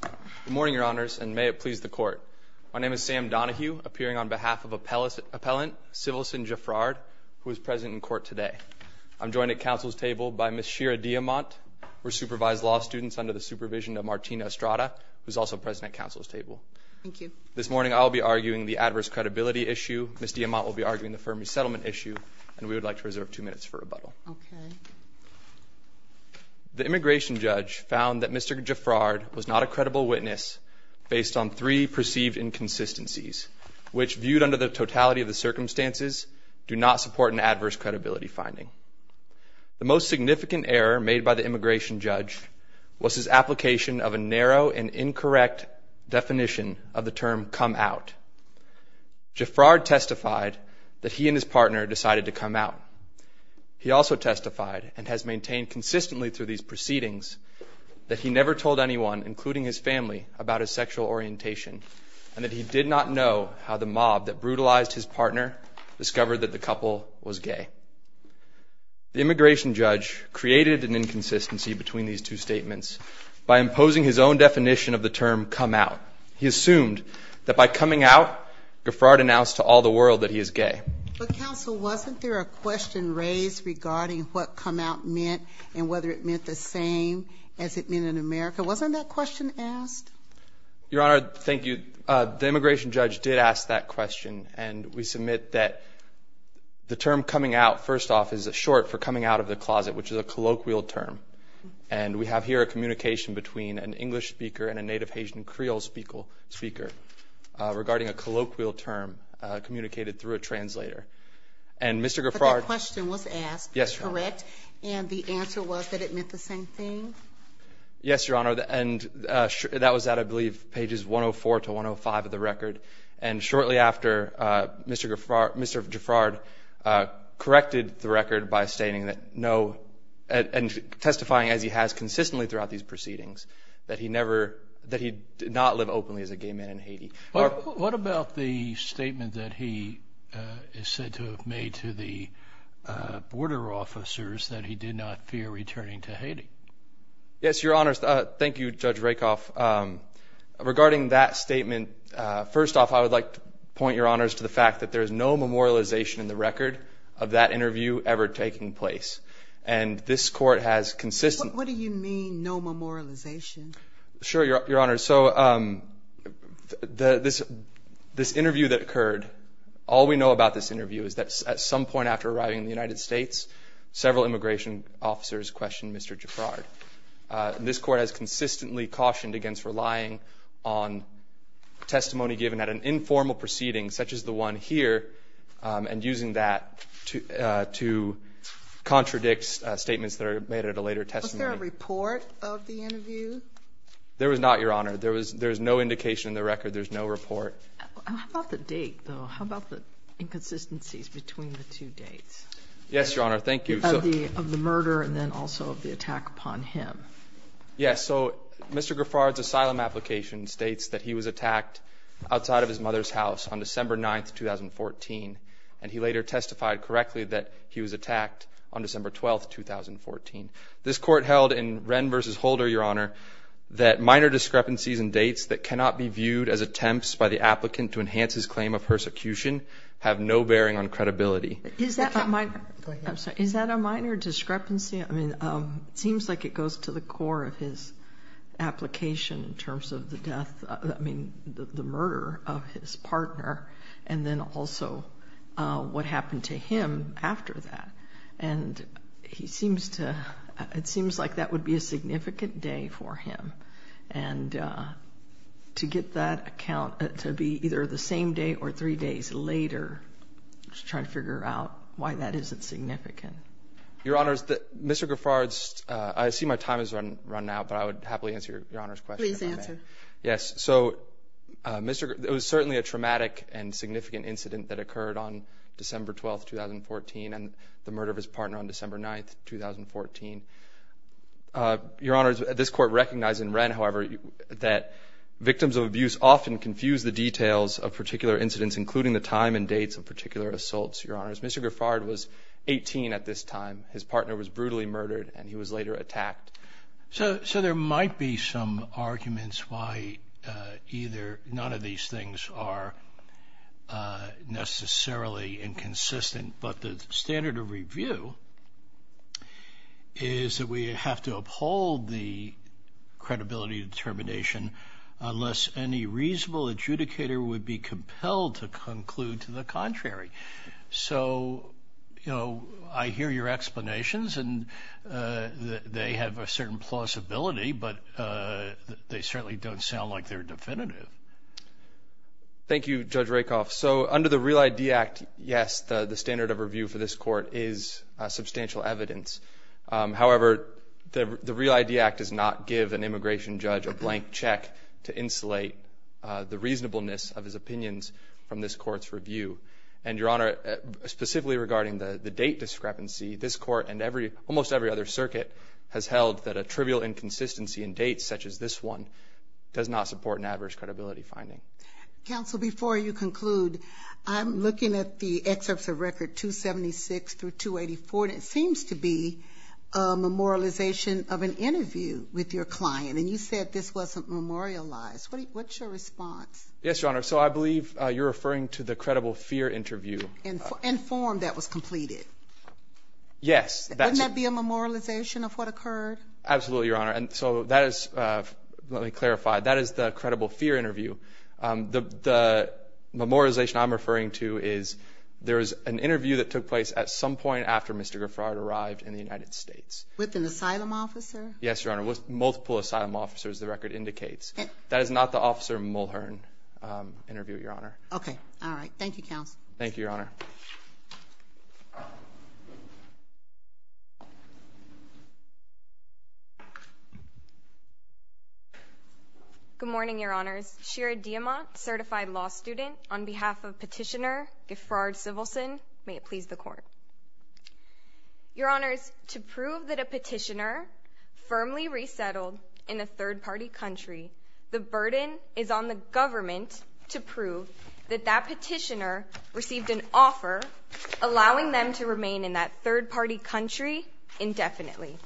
Good morning, Your Honors, and may it please the Court. My name is Sam Donahue, appearing on behalf of Appellant Sivilson Geffrard, who is present in court today. I'm joined at Council's table by Ms. Shira Diamant. We're supervised law students under the supervision of Martina Estrada, who is also present at Council's table. Thank you. This morning I will be arguing the adverse credibility issue, Ms. Diamant will be arguing the Fermi settlement issue, and we would like to reserve two minutes for rebuttal. Okay. The immigration judge found that Mr. Geffrard was not a credible witness based on three perceived inconsistencies, which, viewed under the totality of the circumstances, do not support an adverse credibility finding. The most significant error made by the immigration judge was his application of a narrow and incorrect definition of the term come out. Geffrard testified that he and his partner decided to come out. He also testified, and has maintained consistently through these proceedings, that he never told anyone, including his family, about his sexual orientation, and that he did not know how the mob that brutalized his partner discovered that the couple was gay. The immigration judge created an inconsistency between these two statements by imposing his own definition of the term come out. He assumed that by coming out, Geffrard announced to all the world that he is gay. But, counsel, wasn't there a question raised regarding what come out meant and whether it meant the same as it meant in America? Wasn't that question asked? Your Honor, thank you. The immigration judge did ask that question, and we submit that the term coming out, first off, is short for coming out of the closet, which is a colloquial term. And we have here a communication between an English speaker and a native Haitian Creole speaker regarding a colloquial term communicated through a translator. But that question was asked, correct? Yes, Your Honor. And the answer was that it meant the same thing? Yes, Your Honor. And that was at, I believe, pages 104 to 105 of the record. And shortly after, Mr. Geffrard corrected the record by stating that no and testifying as he has consistently throughout these proceedings, that he did not live openly as a gay man in Haiti. What about the statement that he is said to have made to the border officers that he did not fear returning to Haiti? Yes, Your Honor. Thank you, Judge Rakoff. Regarding that statement, first off, I would like to point Your Honors to the fact that there is no memorialization in the record of that interview ever taking place. And this court has consistently What do you mean no memorialization? Sure, Your Honor. So this interview that occurred, all we know about this interview is that at some point after arriving in the United States, several immigration officers questioned Mr. Geffrard. This court has consistently cautioned against relying on testimony given at an informal proceeding, such as the one here, and using that to contradict statements that are made at a later testimony. Was there a report of the interview? There was not, Your Honor. There is no indication in the record. There is no report. How about the date, though? How about the inconsistencies between the two dates? Yes, Your Honor. Thank you. Of the murder and then also of the attack upon him. Yes, so Mr. Geffrard's asylum application states that he was attacked outside of his mother's house on December 9, 2014, and he later testified correctly that he was attacked on December 12, 2014. This court held in Wren v. Holder, Your Honor, that minor discrepancies in dates that cannot be viewed as attempts by the applicant to enhance his claim of persecution have no bearing on credibility. Is that a minor discrepancy? Yes. It seems like it goes to the core of his application in terms of the murder of his partner and then also what happened to him after that. And it seems like that would be a significant day for him. And to get that account to be either the same day or three days later, I'm just trying to figure out why that isn't significant. Your Honors, Mr. Geffrard's, I see my time has run out, but I would happily answer Your Honor's question if I may. Please answer. Yes. So it was certainly a traumatic and significant incident that occurred on December 12, 2014, and the murder of his partner on December 9, 2014. Your Honors, this court recognized in Wren, however, that victims of abuse often confuse the details of particular incidents, including the time and dates of particular assaults, Your Honors. Mr. Geffrard was 18 at this time. His partner was brutally murdered, and he was later attacked. So there might be some arguments why either none of these things are necessarily inconsistent, but the standard of review is that we have to uphold the credibility determination unless any reasonable adjudicator would be compelled to conclude to the contrary. So, you know, I hear your explanations, and they have a certain plausibility, but they certainly don't sound like they're definitive. Thank you, Judge Rakoff. So under the Real ID Act, yes, the standard of review for this court is substantial evidence. However, the Real ID Act does not give an immigration judge a blank check to insulate the reasonableness of his opinions from this court's review. And, Your Honor, specifically regarding the date discrepancy, this court and almost every other circuit has held that a trivial inconsistency in dates, such as this one, does not support an adverse credibility finding. Counsel, before you conclude, I'm looking at the excerpts of Record 276 through 284, and it seems to be a memorialization of an interview with your client, and you said this wasn't memorialized. What's your response? Yes, Your Honor. So I believe you're referring to the credible fear interview. In form that was completed. Yes. Wouldn't that be a memorialization of what occurred? Absolutely, Your Honor. And so that is, let me clarify, that is the credible fear interview. The memorialization I'm referring to is there was an interview that took place at some point after Mr. Graffard arrived in the United States. With an asylum officer? Yes, Your Honor, with multiple asylum officers, the record indicates. That is not the Officer Mulhern interview, Your Honor. Okay. All right. Thank you, Counsel. Thank you, Your Honor. Good morning, Your Honors. Shira Diamant, certified law student, on behalf of Petitioner Giffrard Sivelson, may it please the Court. Your Honors, to prove that a petitioner firmly resettled in a third-party country, the burden is on the government to prove that that petitioner received an offer allowing them to remain in that third-party country indefinitely.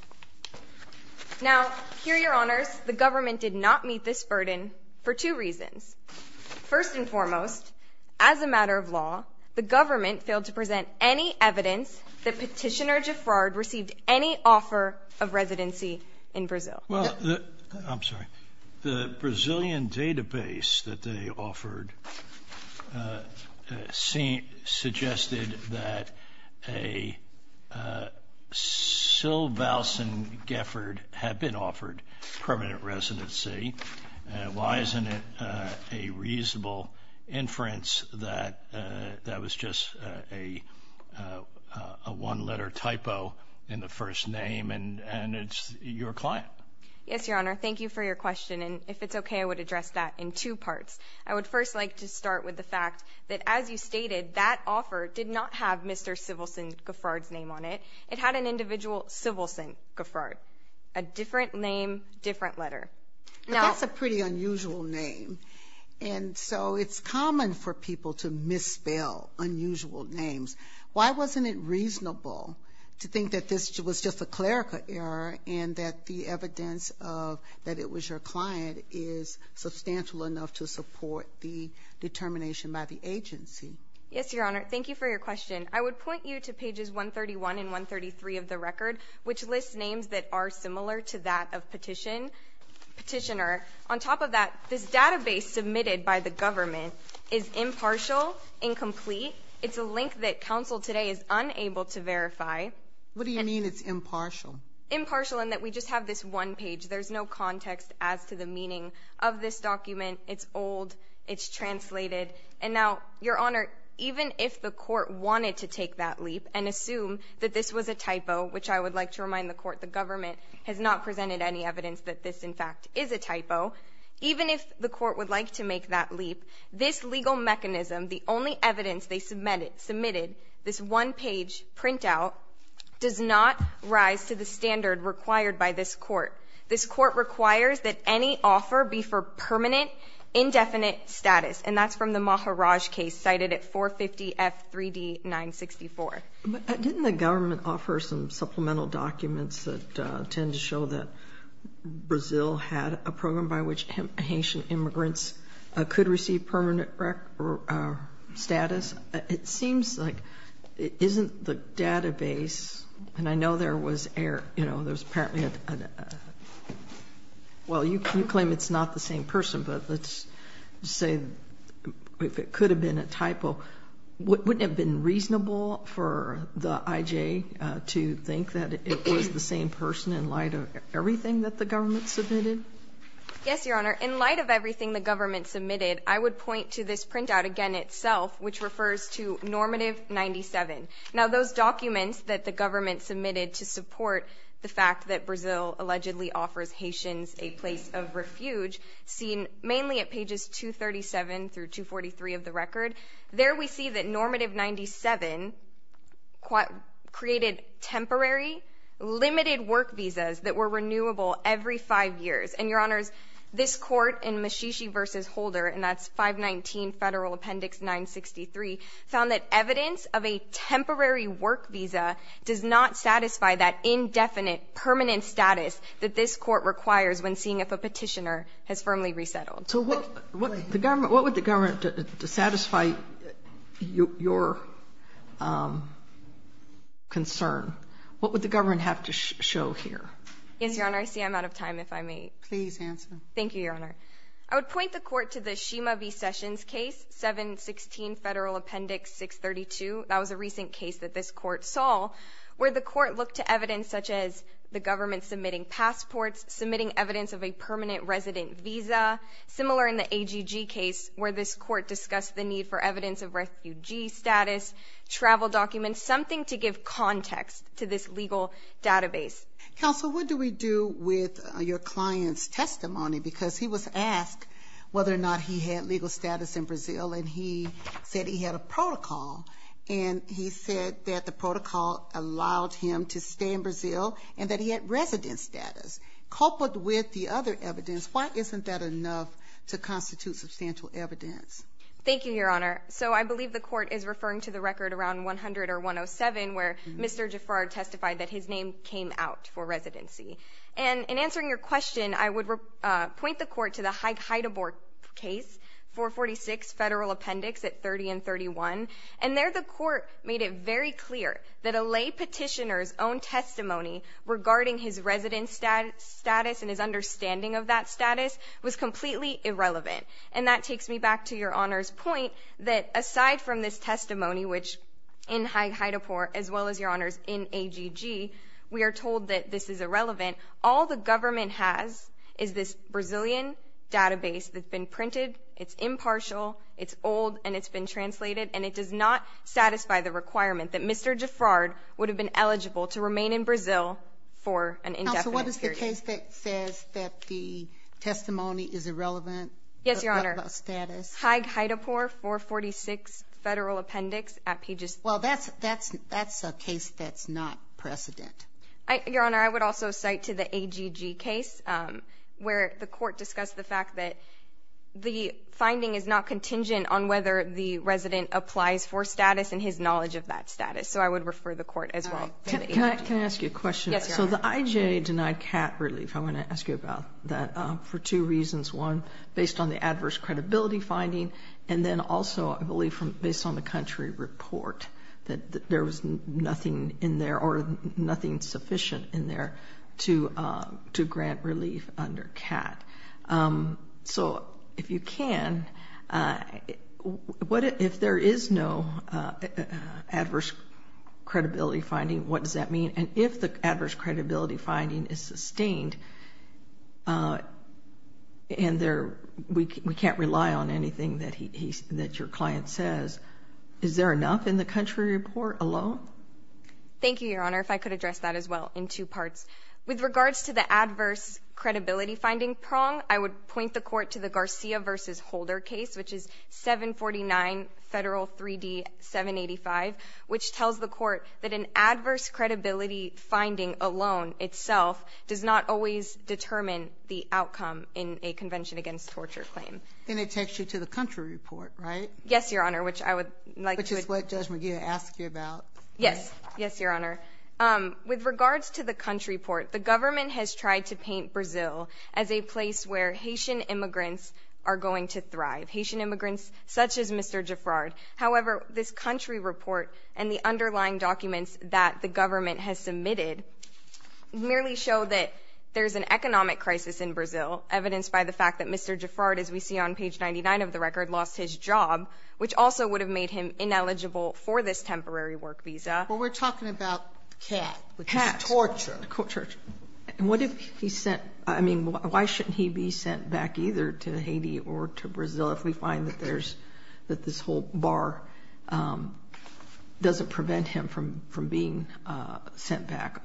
Now, here, Your Honors, the government did not meet this burden for two reasons. First and foremost, as a matter of law, the government failed to present any evidence that Petitioner Giffrard received any offer of residency in Brazil. Well, I'm sorry. The Brazilian database that they offered suggested that a Silvalson Giffard had been offered permanent residency. Why isn't it a reasonable inference that that was just a one-letter typo in the first name and it's your client? Yes, Your Honor. Thank you for your question. And if it's okay, I would address that in two parts. I would first like to start with the fact that, as you stated, that offer did not have Mr. Silvalson Giffrard's name on it. It had an individual Silvalson Giffrard, a different name, different letter. That's a pretty unusual name, and so it's common for people to misspell unusual names. Why wasn't it reasonable to think that this was just a clerical error and that the evidence that it was your client is substantial enough to support the determination by the agency? Yes, Your Honor. Thank you for your question. I would point you to pages 131 and 133 of the record, which lists names that are similar to that of petitioner. On top of that, this database submitted by the government is impartial, incomplete. It's a link that counsel today is unable to verify. What do you mean it's impartial? Impartial in that we just have this one page. There's no context as to the meaning of this document. It's old. It's translated. And now, Your Honor, even if the court wanted to take that leap and assume that this was a typo, which I would like to remind the court the government has not presented any evidence that this, in fact, is a typo, even if the court would like to make that leap, this legal mechanism, the only evidence they submitted, this one-page printout, does not rise to the standard required by this court. This court requires that any offer be for permanent indefinite status, and that's from the Maharaj case cited at 450F3D964. Didn't the government offer some supplemental documents that tend to show that Brazil had a program by which Haitian immigrants could receive permanent status? It seems like it isn't the database. And I know there was, you know, there's apparently a ñ well, you claim it's not the same person, but let's say if it could have been a typo, wouldn't it have been reasonable for the IJ to think that it was the same person in light of everything that the government submitted? Yes, Your Honor. In light of everything the government submitted, I would point to this printout again itself, which refers to Normative 97. Now, those documents that the government submitted to support the fact that Brazil allegedly offers Haitians a place of refuge seen mainly at pages 237 through 243 of the record, there we see that Normative 97 created temporary, limited work visas that were renewable every five years. And, Your Honors, this court in Mashishi v. Holder, and that's 519 Federal Appendix 963, found that evidence of a temporary work visa does not satisfy that indefinite permanent status that this court requires when seeing if a petitioner has firmly resettled. So what would the government ñ to satisfy your concern, what would the government have to show here? Yes, Your Honor. I see I'm out of time, if I may. Please answer. Thank you, Your Honor. I would point the court to the Shima v. Sessions case, 716 Federal Appendix 632. That was a recent case that this court saw, where the court looked to evidence such as the government submitting passports, submitting evidence of a permanent resident visa, similar in the AGG case, where this court discussed the need for evidence of refugee status, travel documents, something to give context to this legal database. Counsel, what do we do with your client's testimony? Because he was asked whether or not he had legal status in Brazil, and he said he had a protocol, and he said that the protocol allowed him to stay in Brazil and that he had resident status. Coupled with the other evidence, why isn't that enough to constitute substantial evidence? Thank you, Your Honor. So I believe the court is referring to the record around 100 or 107, where Mr. Jaffar testified that his name came out for residency. And in answering your question, I would point the court to the Haig-Haidapur case, 446 Federal Appendix at 30 and 31. And there the court made it very clear that a lay petitioner's own testimony regarding his resident status and his understanding of that status was completely irrelevant. And that takes me back to Your Honor's point that aside from this testimony, which in Haig-Haidapur as well as, Your Honor, in AGG, we are told that this is irrelevant, all the government has is this Brazilian database that's been printed, it's impartial, it's old, and it's been translated, and it does not satisfy the requirement that Mr. Jaffar would have been eligible to remain in Brazil for an indefinite period. Counsel, what is the case that says that the testimony is irrelevant? Yes, Your Honor. Haig-Haidapur, 446 Federal Appendix at pages 30. Well, that's a case that's not precedent. Your Honor, I would also cite to the AGG case where the court discussed the fact that the finding is not contingent on whether the resident applies for status and his knowledge of that status. So I would refer the court as well. Can I ask you a question? Yes, Your Honor. So the IJA denied cat relief. I want to ask you about that for two reasons. One, based on the adverse credibility finding, and then also, I believe, based on the country report, that there was nothing in there or nothing sufficient in there to grant relief under cat. So if you can, if there is no adverse credibility finding, what does that mean? And if the adverse credibility finding is sustained and we can't rely on anything that your client says, is there enough in the country report alone? Thank you, Your Honor, if I could address that as well in two parts. With regards to the adverse credibility finding prong, I would point the court to the Garcia v. Holder case, which is 749 Federal 3D 785, which tells the court that an adverse credibility finding alone itself does not always determine the outcome in a Convention Against Torture claim. And it takes you to the country report, right? Yes, Your Honor, which I would like to do. Which is what Judge McGee asked you about. Yes. Yes, Your Honor. With regards to the country report, the government has tried to paint Brazil as a place where Haitian immigrants are going to thrive, Haitian immigrants such as Mr. Giffard. However, this country report and the underlying documents that the government has submitted merely show that there's an economic crisis in Brazil, evidenced by the fact that Mr. Giffard, as we see on page 99 of the record, lost his job, which also would have made him ineligible for this temporary work visa. Well, we're talking about CAF, which is torture. Torture. And what if he's sent, I mean, why shouldn't he be sent back either to Haiti or to Brazil if we find that this whole bar doesn't prevent him from being sent back?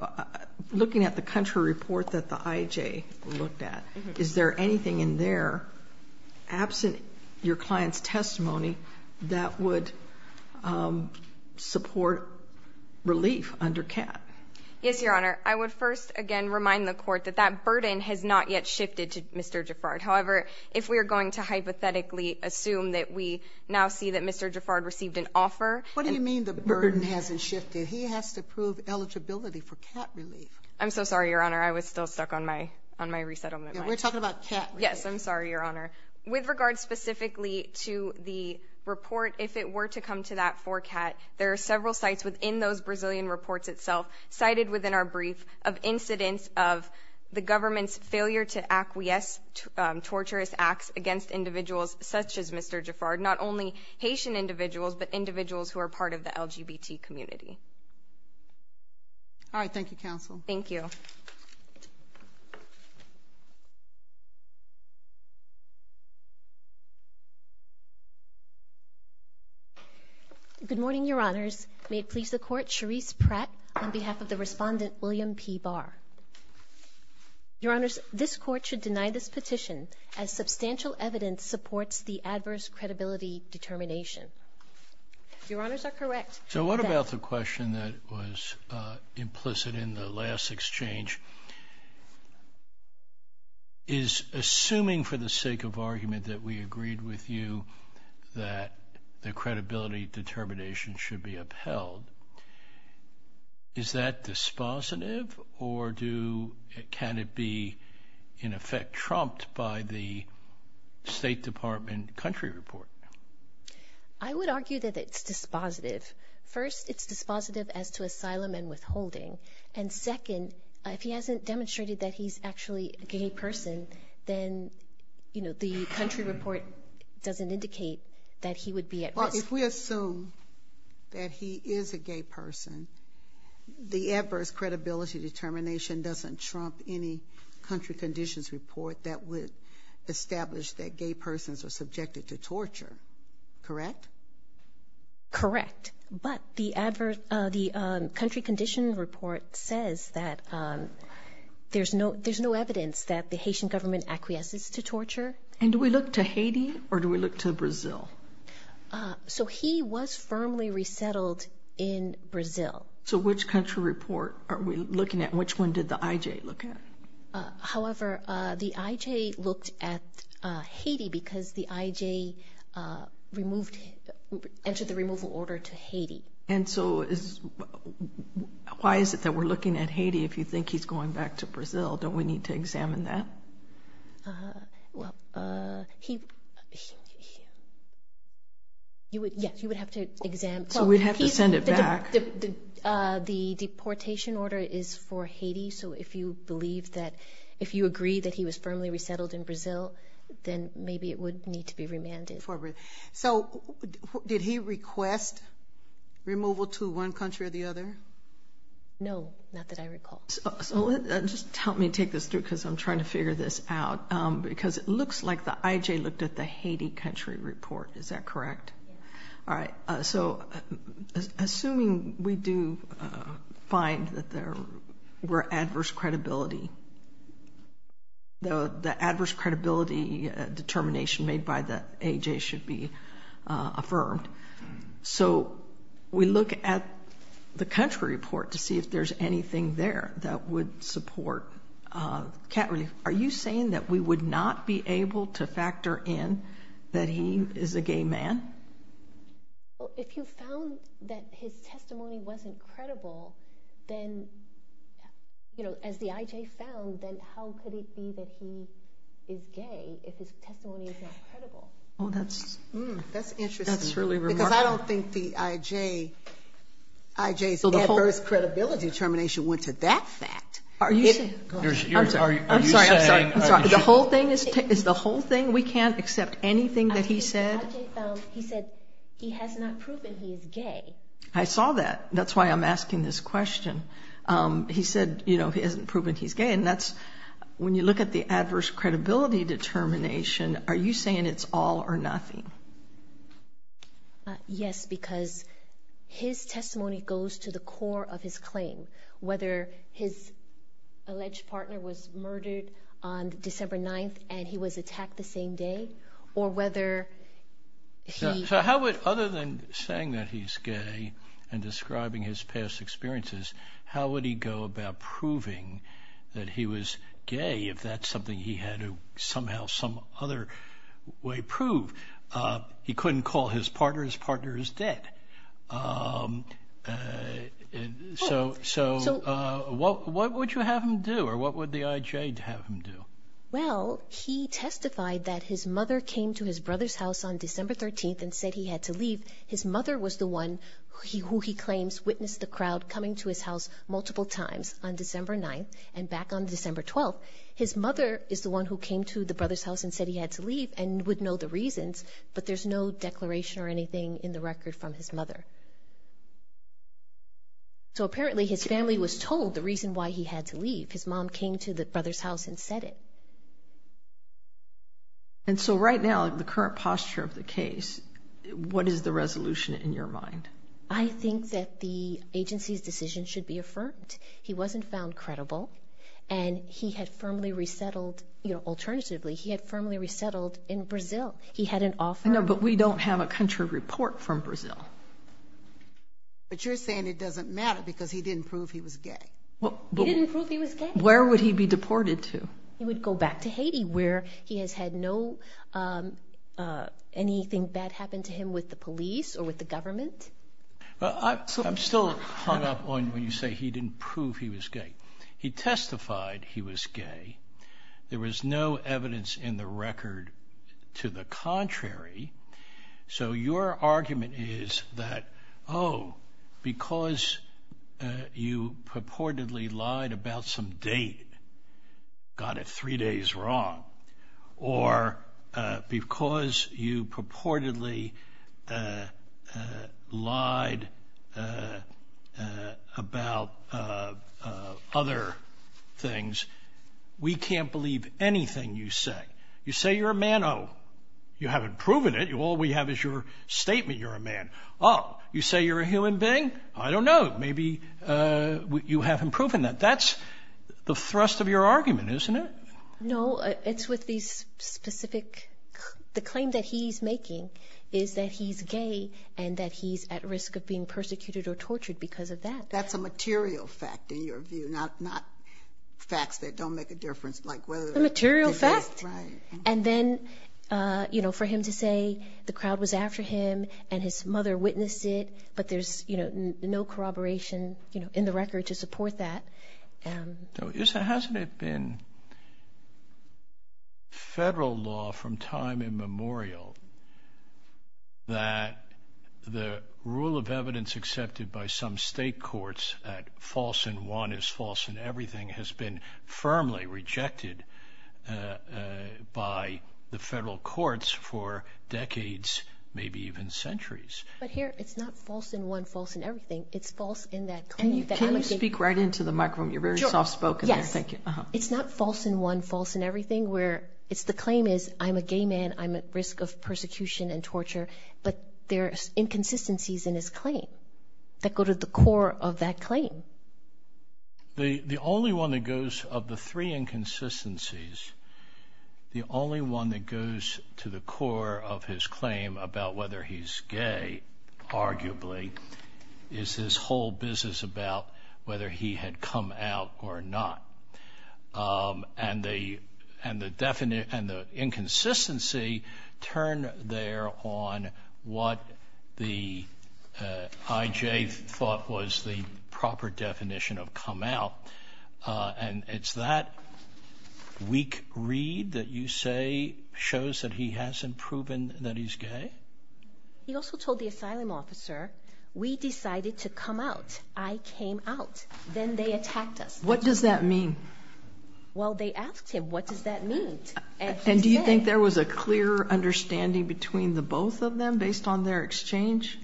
Looking at the country report that the IJ looked at, is there anything in there, absent your client's testimony, that would support relief under CAF? Yes, Your Honor. I would first, again, remind the Court that that burden has not yet shifted to Mr. Giffard. However, if we are going to hypothetically assume that we now see that Mr. Giffard received an offer. What do you mean the burden hasn't shifted? He has to prove eligibility for CAF relief. I'm so sorry, Your Honor. I was still stuck on my resettlement. We're talking about CAF relief. Yes, I'm sorry, Your Honor. With regard specifically to the report, if it were to come to that for CAF, there are several sites within those Brazilian reports itself, cited within our brief, of incidents of the government's failure to acquiesce to torturous acts against individuals such as Mr. Giffard, not only Haitian individuals but individuals who are part of the LGBT community. All right, thank you, Counsel. Thank you. Good morning, Your Honors. May it please the Court, Cherise Pratt, on behalf of the respondent, William P. Barr. Your Honors, this Court should deny this petition as substantial evidence supports the adverse credibility determination. Your Honors are correct. So what about the question that was implicit in the last exchange? Is assuming for the sake of argument that we agreed with you that the credibility determination should be upheld, is that dispositive or can it be, in effect, trumped by the State Department country report? I would argue that it's dispositive. First, it's dispositive as to asylum and withholding. And second, if he hasn't demonstrated that he's actually a gay person, then the country report doesn't indicate that he would be at risk. Well, if we assume that he is a gay person, the adverse credibility determination doesn't trump any country conditions report that would establish that gay persons are subjected to torture, correct? Correct. But the country condition report says that there's no evidence that the Haitian government acquiesces to torture. And do we look to Haiti or do we look to Brazil? So he was firmly resettled in Brazil. So which country report are we looking at? Which one did the IJ look at? However, the IJ looked at Haiti because the IJ entered the removal order to Haiti. And so why is it that we're looking at Haiti if you think he's going back to Brazil? Don't we need to examine that? Yes, you would have to examine. So we'd have to send it back. The deportation order is for Haiti. So if you believe that, if you agree that he was firmly resettled in Brazil, then maybe it would need to be remanded. So did he request removal to one country or the other? No, not that I recall. So just help me take this through because I'm trying to figure this out, because it looks like the IJ looked at the Haiti country report. Is that correct? Yes. All right. So assuming we do find that there were adverse credibility, the adverse credibility determination made by the IJ should be affirmed. So we look at the country report to see if there's anything there that would support. Are you saying that we would not be able to factor in that he is a gay man? Well, if you found that his testimony wasn't credible, then, you know, as the IJ found, then how could it be that he is gay if his testimony is not credible? Oh, that's interesting. That's really remarkable. Because I don't think the IJ's adverse credibility determination went to that fact. I'm sorry. I'm sorry. The whole thing is the whole thing? We can't accept anything that he said? He said he has not proven he is gay. I saw that. That's why I'm asking this question. He said, you know, he hasn't proven he's gay, and that's when you look at the adverse credibility determination, are you saying it's all or nothing? Yes, because his testimony goes to the core of his claim, whether his alleged partner was murdered on December 9th and he was attacked the same day, or whether he... So how would, other than saying that he's gay and describing his past experiences, how would he go about proving that he was gay, if that's something he had to somehow some other way prove? He couldn't call his partner. His partner is dead. So what would you have him do, or what would the IJ have him do? Well, he testified that his mother came to his brother's house on December 13th and said he had to leave. His mother was the one who he claims witnessed the crowd coming to his house multiple times on December 9th and back on December 12th. His mother is the one who came to the brother's house and said he had to leave and would know the reasons, but there's no declaration or anything in the record from his mother. So apparently his family was told the reason why he had to leave. His mom came to the brother's house and said it. And so right now, the current posture of the case, what is the resolution in your mind? I think that the agency's decision should be affirmed. He wasn't found credible, and he had firmly resettled... Alternatively, he had firmly resettled in Brazil. He had an offer... No, but we don't have a country report from Brazil. But you're saying it doesn't matter because he didn't prove he was gay. He didn't prove he was gay. Where would he be deported to? He would go back to Haiti where he has had no anything bad happen to him with the police or with the government. I'm still hung up on when you say he didn't prove he was gay. He testified he was gay. There was no evidence in the record to the contrary. So your argument is that, oh, because you purportedly lied about some date, got it three days wrong, or because you purportedly lied about other things, we can't believe anything you say. You say you're a man. Oh, you haven't proven it. All we have is your statement you're a man. Oh, you say you're a human being? I don't know. Maybe you haven't proven that. That's the thrust of your argument, isn't it? No, it's with these specific the claim that he's making is that he's gay and that he's at risk of being persecuted or tortured because of that. That's a material fact in your view, not facts that don't make a difference. A material fact. And then for him to say the crowd was after him and his mother witnessed it, but there's no corroboration in the record to support that. Hasn't it been federal law from time immemorial that the rule of evidence accepted by some state courts that false in one is false in everything has been firmly rejected by the federal courts for decades, maybe even centuries? But here it's not false in one, false in everything. It's false in that claim. Can you speak right into the microphone? You're very soft spoken there. Yes. Thank you. It's not false in one, false in everything where it's the claim is I'm a gay man, I'm at risk of persecution and torture, but there are inconsistencies in his claim that go to the core of that claim. The only one that goes of the three inconsistencies, the only one that goes to the core of his claim about whether he's gay, arguably, is his whole business about whether he had come out or not. And the inconsistency turned there on what the IJ thought was the proper definition of come out, and it's that weak read that you say shows that he hasn't proven that he's gay? He also told the asylum officer, we decided to come out. I came out. Then they attacked us. What does that mean? Well, they asked him, what does that mean? And do you think there was a clear understanding between the both of them based on their exchange?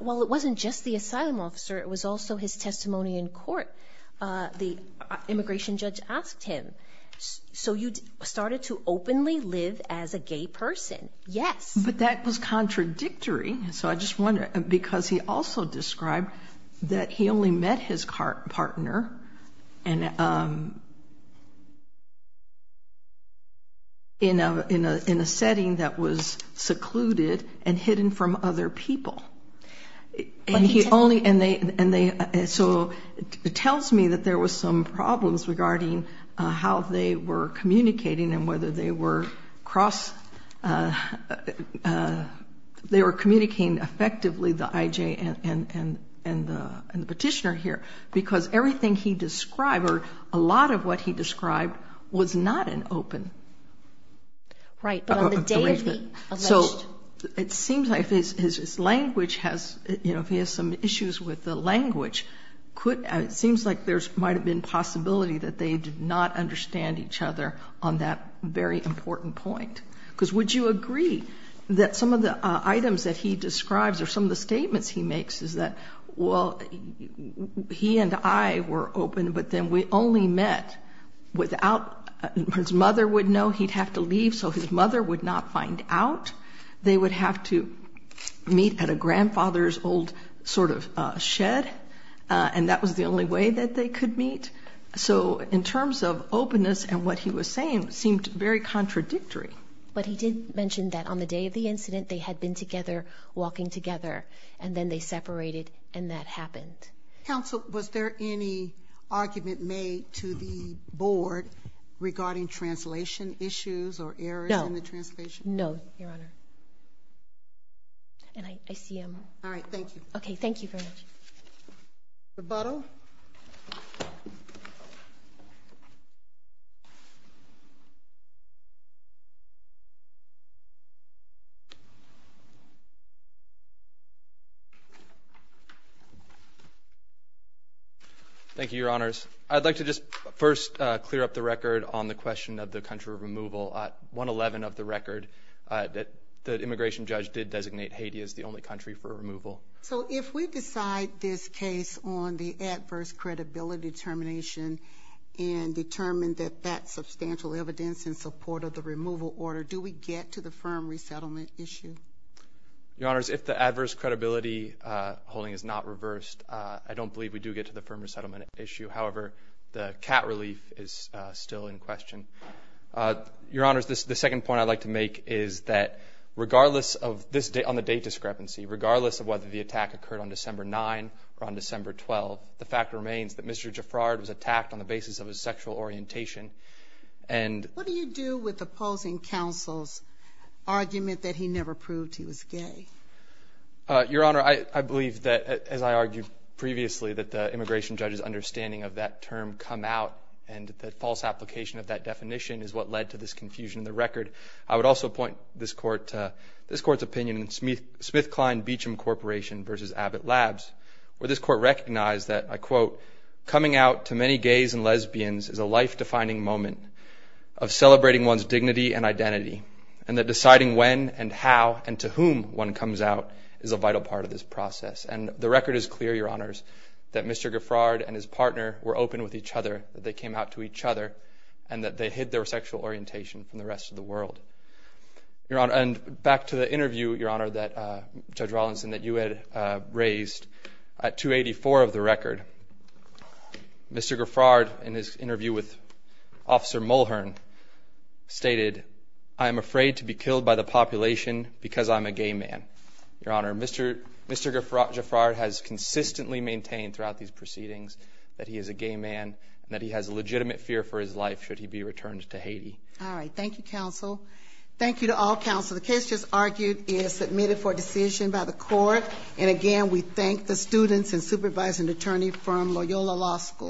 Well, it wasn't just the asylum officer. It was also his testimony in court. The immigration judge asked him, so you started to openly live as a gay person? Yes. But that was contradictory, because he also described that he only met his partner in a setting that was secluded and hidden from other people. So it tells me that there was some problems regarding how they were communicating and whether they were communicating effectively, the IJ and the petitioner here, because everything he described, or a lot of what he described, was not an open arrangement. Right, but on the day of the arrest. So it seems like if he has some issues with the language, it seems like there might have been possibility that they did not understand each other on that very important point, because would you agree that some of the items that he describes or some of the statements he makes is that, well, he and I were open, but then we only met without his mother would know. He'd have to leave so his mother would not find out. They would have to meet at a grandfather's old sort of shed, and that was the only way that they could meet. So in terms of openness and what he was saying seemed very contradictory. But he did mention that on the day of the incident they had been together walking together, and then they separated, and that happened. Counsel, was there any argument made to the board regarding translation issues or errors in the translation? No, Your Honor. And I see him. All right, thank you. Okay, thank you very much. Rebuttal. Thank you, Your Honors. I'd like to just first clear up the record on the question of the country of removal. 111 of the record, the immigration judge did designate Haiti as the only country for removal. So if we decide this case on the adverse credibility determination and determine that that's substantial evidence in support of the removal order, do we get to the firm resettlement issue? Your Honors, if the adverse credibility holding is not reversed, I don't believe we do get to the firm resettlement issue. However, the cat relief is still in question. Your Honors, the second point I'd like to make is that, on the date discrepancy, regardless of whether the attack occurred on December 9 or on December 12, the fact remains that Mr. Jaffrard was attacked on the basis of his sexual orientation. What do you do with opposing counsel's argument that he never proved he was gay? Your Honor, I believe that, as I argued previously, that the immigration judge's understanding of that term come out and that false application of that definition is what led to this confusion in the record. I would also point this Court's opinion in SmithKline Beecham Corporation v. Abbott Labs, where this Court recognized that, I quote, coming out to many gays and lesbians is a life-defining moment of celebrating one's dignity and identity, and that deciding when and how and to whom one comes out is a vital part of this process. And the record is clear, Your Honors, that Mr. Jaffrard and his partner were open with each other, that they came out to each other, and that they hid their sexual orientation from the rest of the world. And back to the interview, Your Honor, that Judge Rawlinson, that you had raised at 284 of the record. Mr. Jaffrard, in his interview with Officer Mulhern, stated, I am afraid to be killed by the population because I'm a gay man. Your Honor, Mr. Jaffrard has consistently maintained throughout these proceedings that he is a gay man and that he has a legitimate fear for his life should he be returned to Haiti. All right, thank you, counsel. Thank you to all counsel. The case just argued is submitted for decision by the Court. And again, we thank the students and supervising attorney from Loyola Law School.